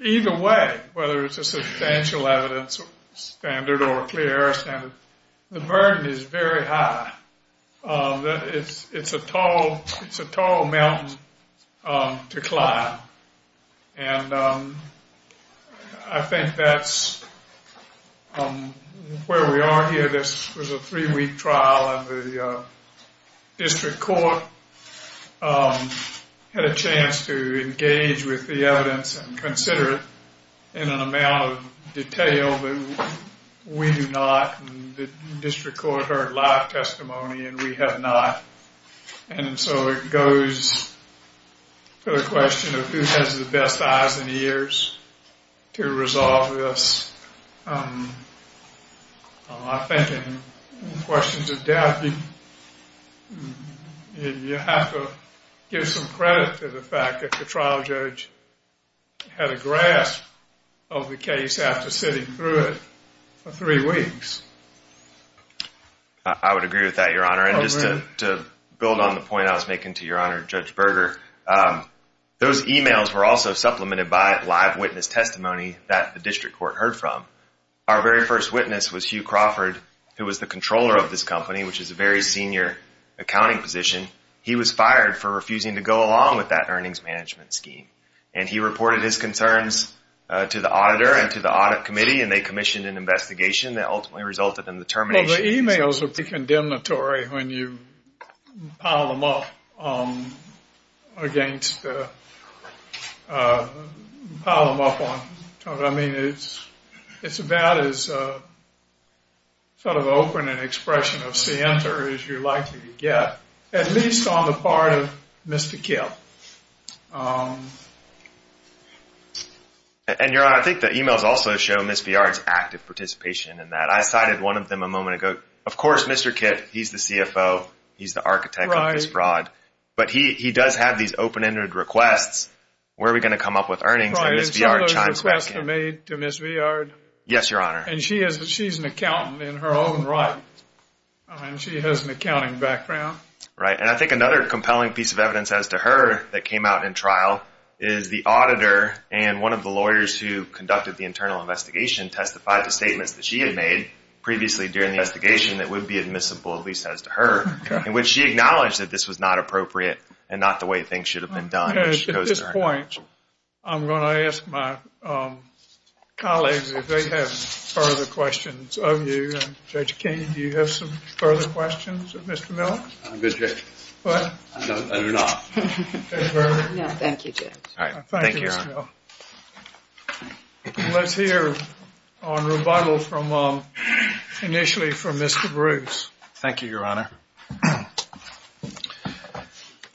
either way, whether it's a substantial evidence standard or a clear error standard, the burden is very high. It's a tall mountain to climb. And I think that's where we are here. This was a three-week trial, and the district court had a chance to engage with the evidence and consider it in an amount of detail that we do not. The district court heard live testimony, and we have not. And so it goes to the question of who has the best eyes and ears to resolve this. I think in questions of depth, you have to give some credit to the fact that the trial judge had a grasp of the case after sitting through it for three weeks. I would agree with that, Your Honor. And just to build on the point I was making to Your Honor, Judge Berger, those e-mails were also supplemented by live witness testimony that the district court heard from. Our very first witness was Hugh Crawford, who was the controller of this company, which is a very senior accounting position. He was fired for refusing to go along with that earnings management scheme. And he reported his concerns to the auditor and to the audit committee, and they commissioned an investigation that ultimately resulted in the termination. Well, the e-mails would be condemnatory when you pile them up against the – pile them up on – I mean, it's about as sort of open an expression of scienter as you're likely to get. At least on the part of Mr. Kipp. And, Your Honor, I think the e-mails also show Ms. Viard's active participation in that. I cited one of them a moment ago. Of course, Mr. Kipp, he's the CFO. He's the architect of this fraud. But he does have these open-ended requests. Where are we going to come up with earnings? And Ms. Viard chimes back in. Some of those requests are made to Ms. Viard. Yes, Your Honor. And she's an accountant in her own right. She has an accounting background. Right, and I think another compelling piece of evidence as to her that came out in trial is the auditor and one of the lawyers who conducted the internal investigation testified to statements that she had made previously during the investigation that would be admissible, at least as to her, in which she acknowledged that this was not appropriate and not the way things should have been done. At this point, I'm going to ask my colleagues, if they have further questions of you. Judge King, do you have some further questions of Mr. Mill? I'm good, Judge. What? No, I do not. Thank you, Judge. Thank you, Ms. Mill. Let's hear a rebuttal initially from Mr. Bruce. Thank you, Your Honor.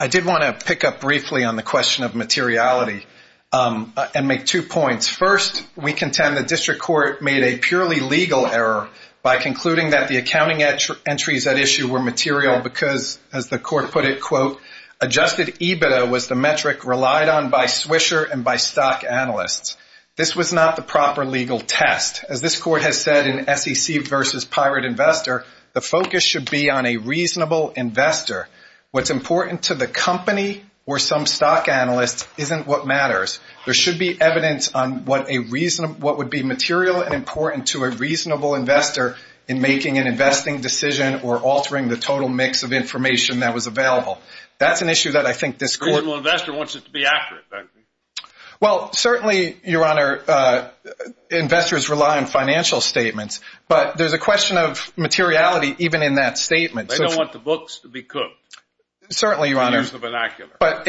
I did want to pick up briefly on the question of materiality and make two points. First, we contend the district court made a purely legal error by concluding that the accounting entries at issue were material because, as the court put it, adjusted EBITDA was the metric relied on by Swisher and by stock analysts. This was not the proper legal test. As this court has said in SEC v. Pirate Investor, the focus should be on a reasonable investor. What's important to the company or some stock analyst isn't what matters. There should be evidence on what would be material and important to a reasonable investor in making an investing decision or altering the total mix of information that was available. That's an issue that I think this court. A reasonable investor wants it to be accurate. Well, certainly, Your Honor, investors rely on financial statements, but there's a question of materiality even in that statement. They don't want the books to be cooked. Certainly, Your Honor. To use the vernacular. But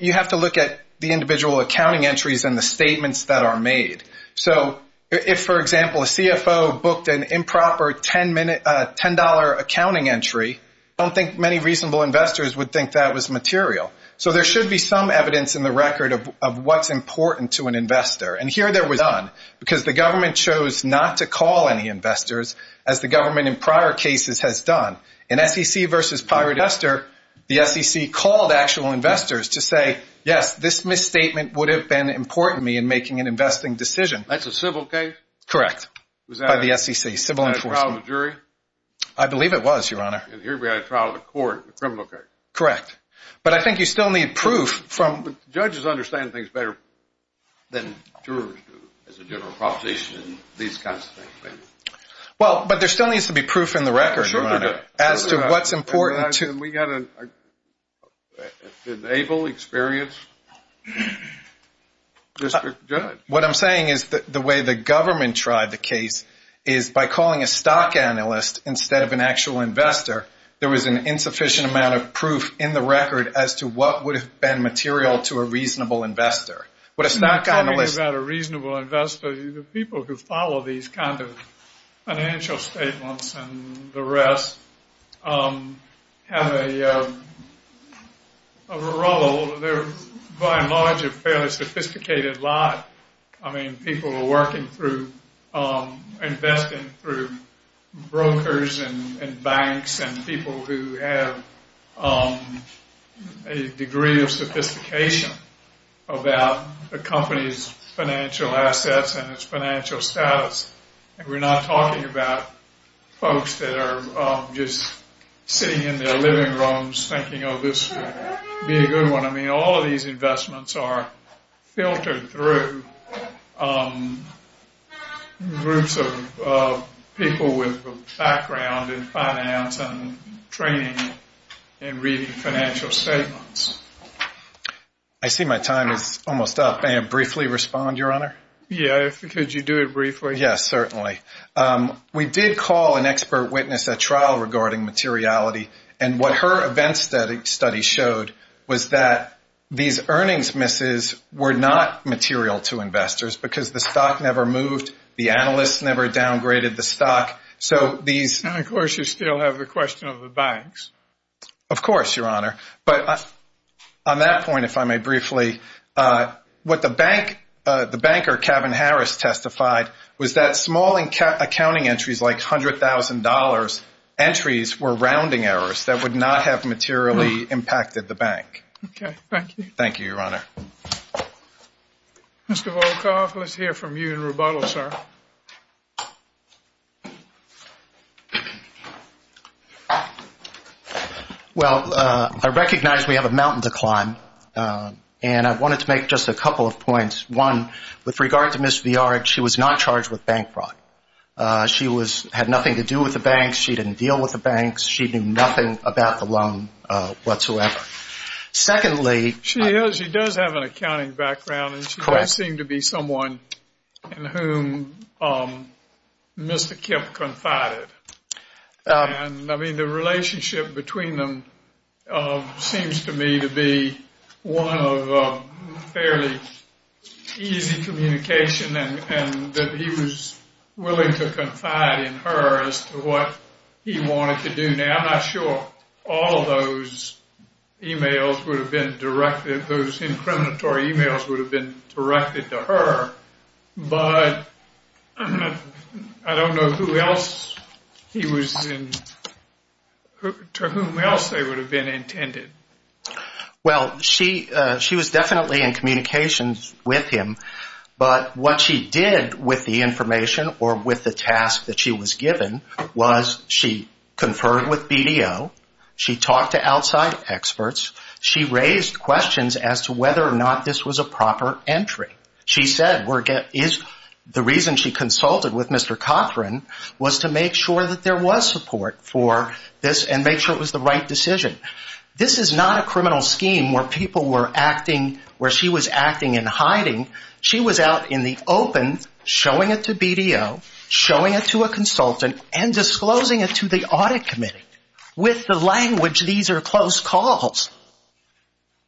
you have to look at the individual accounting entries and the statements that are made. So if, for example, a CFO booked an improper $10 accounting entry, I don't think many reasonable investors would think that was material. So there should be some evidence in the record of what's important to an investor. And here there was none because the government chose not to call any investors, as the government in prior cases has done. In SEC v. Pirate Investor, the SEC called actual investors to say, yes, this misstatement would have been important to me in making an investing decision. That's a civil case? Correct. By the SEC, civil enforcement. Was that a trial of a jury? I believe it was, Your Honor. And here we had a trial of the court, a criminal case. Correct. But I think you still need proof. Judges understand things better than jurors do as a general proposition and these kinds of things. Well, but there still needs to be proof in the record, Your Honor. Sure there does. As to what's important. And we got an able, experienced district judge. What I'm saying is the way the government tried the case is by calling a stock analyst instead of an actual investor, there was an insufficient amount of proof in the record as to what would have been material to a reasonable investor. But a stock analyst. I'm not talking about a reasonable investor. The people who follow these kind of financial statements and the rest have a role. They're by and large a fairly sophisticated lot. I mean, people are working through investing through brokers and banks and people who have a degree of sophistication about a company's financial assets and its financial status. And we're not talking about folks that are just sitting in their living rooms thinking, oh, this would be a good one. I mean, all of these investments are filtered through groups of people with a background in finance and training and reading financial statements. I see my time is almost up. May I briefly respond, Your Honor? Yes, could you do it briefly? Yes, certainly. We did call an expert witness at trial regarding materiality. And what her event study showed was that these earnings misses were not material to investors because the stock never moved, the analysts never downgraded the stock. And, of course, you still have the question of the banks. Of course, Your Honor. But on that point, if I may briefly, what the banker, Kevin Harris, testified was that small accounting entries like $100,000 entries were rounding errors that would not have materially impacted the bank. Okay, thank you. Thank you, Your Honor. Mr. Volkoff, let's hear from you in rebuttal, sir. Well, I recognize we have a mountain to climb, and I wanted to make just a couple of points. One, with regard to Ms. Viard, she was not charged with bank fraud. She had nothing to do with the banks. She didn't deal with the banks. She knew nothing about the loan whatsoever. Secondly… She does have an accounting background, and she does seem to be someone in whom Mr. Kemp confided. And, I mean, the relationship between them seems to me to be one of fairly easy communication and that he was willing to confide in her as to what he wanted to do. Now, I'm not sure all those emails would have been directed, those incriminatory emails would have been directed to her, but I don't know to whom else they would have been intended. Well, she was definitely in communications with him, but what she did with the information or with the task that she was given was she conferred with BDO, she talked to outside experts, she raised questions as to whether or not this was a proper entry. She said the reason she consulted with Mr. Cochran was to make sure that there was support for this and make sure it was the right decision. This is not a criminal scheme where people were acting, where she was acting in hiding. She was out in the open showing it to BDO, showing it to a consultant, and disclosing it to the audit committee with the language, these are close calls.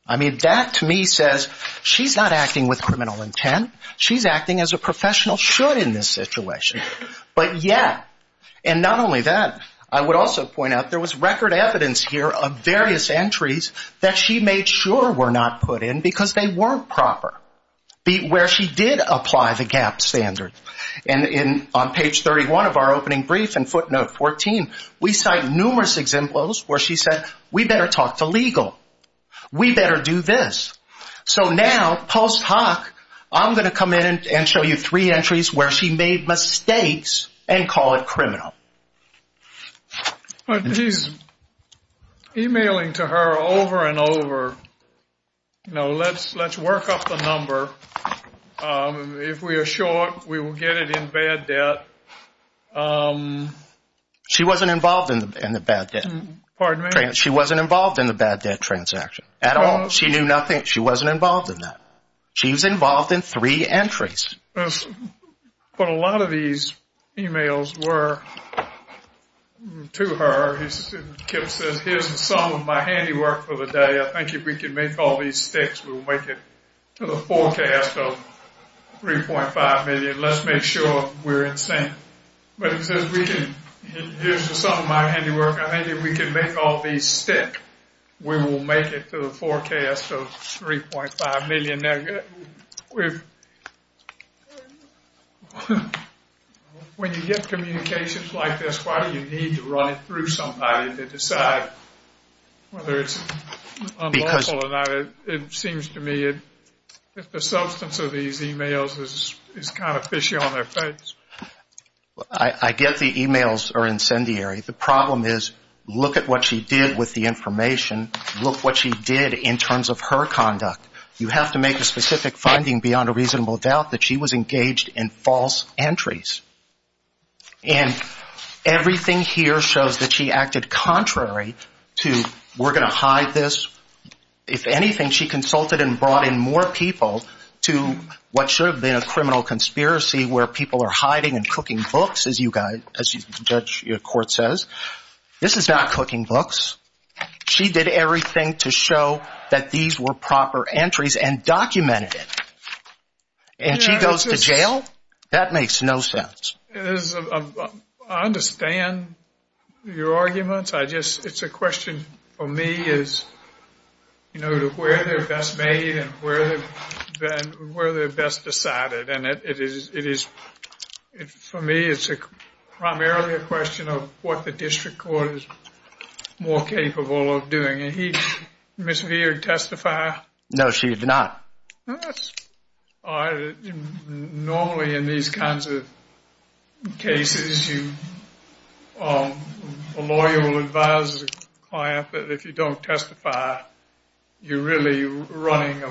I mean, that to me says she's not acting with criminal intent, she's acting as a professional should in this situation. But yet, and not only that, I would also point out there was record evidence here of various entries that she made sure were not put in because they weren't proper, where she did apply the GAAP standard. And on page 31 of our opening brief in footnote 14, we cite numerous examples where she said, we better talk to legal, we better do this. So now, post hoc, I'm going to come in and show you three entries where she made mistakes and call it criminal. But he's emailing to her over and over, you know, let's work up the number. If we are short, we will get it in bad debt. She wasn't involved in the bad debt. Pardon me? She wasn't involved in the bad debt transaction at all. She knew nothing. She wasn't involved in that. She was involved in three entries. But a lot of these emails were to her. Kip says, here's the sum of my handiwork for the day. I think if we can make all these sticks, we'll make it to the forecast of 3.5 million. Let's make sure we're in sync. But he says, here's the sum of my handiwork. I think if we can make all these stick, we will make it to the forecast of 3.5 million. When you get communications like this, why do you need to run it through somebody to decide whether it's unlawful or not? It seems to me that the substance of these emails is kind of fishy on their face. I get the emails are incendiary. The problem is, look at what she did with the information. Look what she did in terms of her conduct. You have to make a specific finding beyond a reasonable doubt that she was engaged in false entries. And everything here shows that she acted contrary to we're going to hide this. If anything, she consulted and brought in more people to what should have been a criminal conspiracy where people are hiding and cooking books, as you guys, as Judge Court says. This is not cooking books. She did everything to show that these were proper entries and documented it. And she goes to jail? That makes no sense. I understand your arguments. It's a question for me as to where they're best made and where they're best decided. For me, it's primarily a question of what the district court is more capable of doing. Did Ms. Veard testify? No, she did not. Normally, in these kinds of cases, a lawyer will advise the client that if you don't testify, you're really running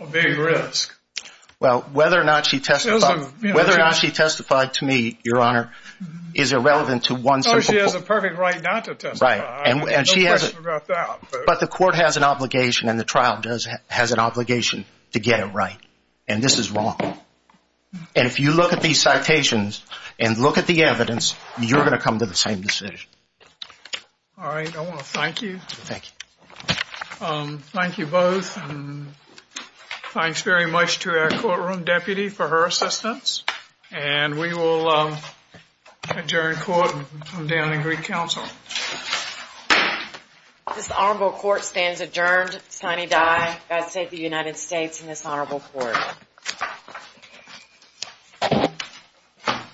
a big risk. Well, whether or not she testified to me, Your Honor, is irrelevant to one. She has a perfect right not to testify. But the court has an obligation and the trial has an obligation to get it right. And this is wrong. And if you look at these citations and look at the evidence, you're going to come to the same decision. All right. I want to thank you. Thank you. Thank you both. Thanks very much to our courtroom deputy for her assistance. And we will adjourn court and come down and greet counsel. This honorable court stands adjourned. Sonny Dye, God save the United States and this honorable court.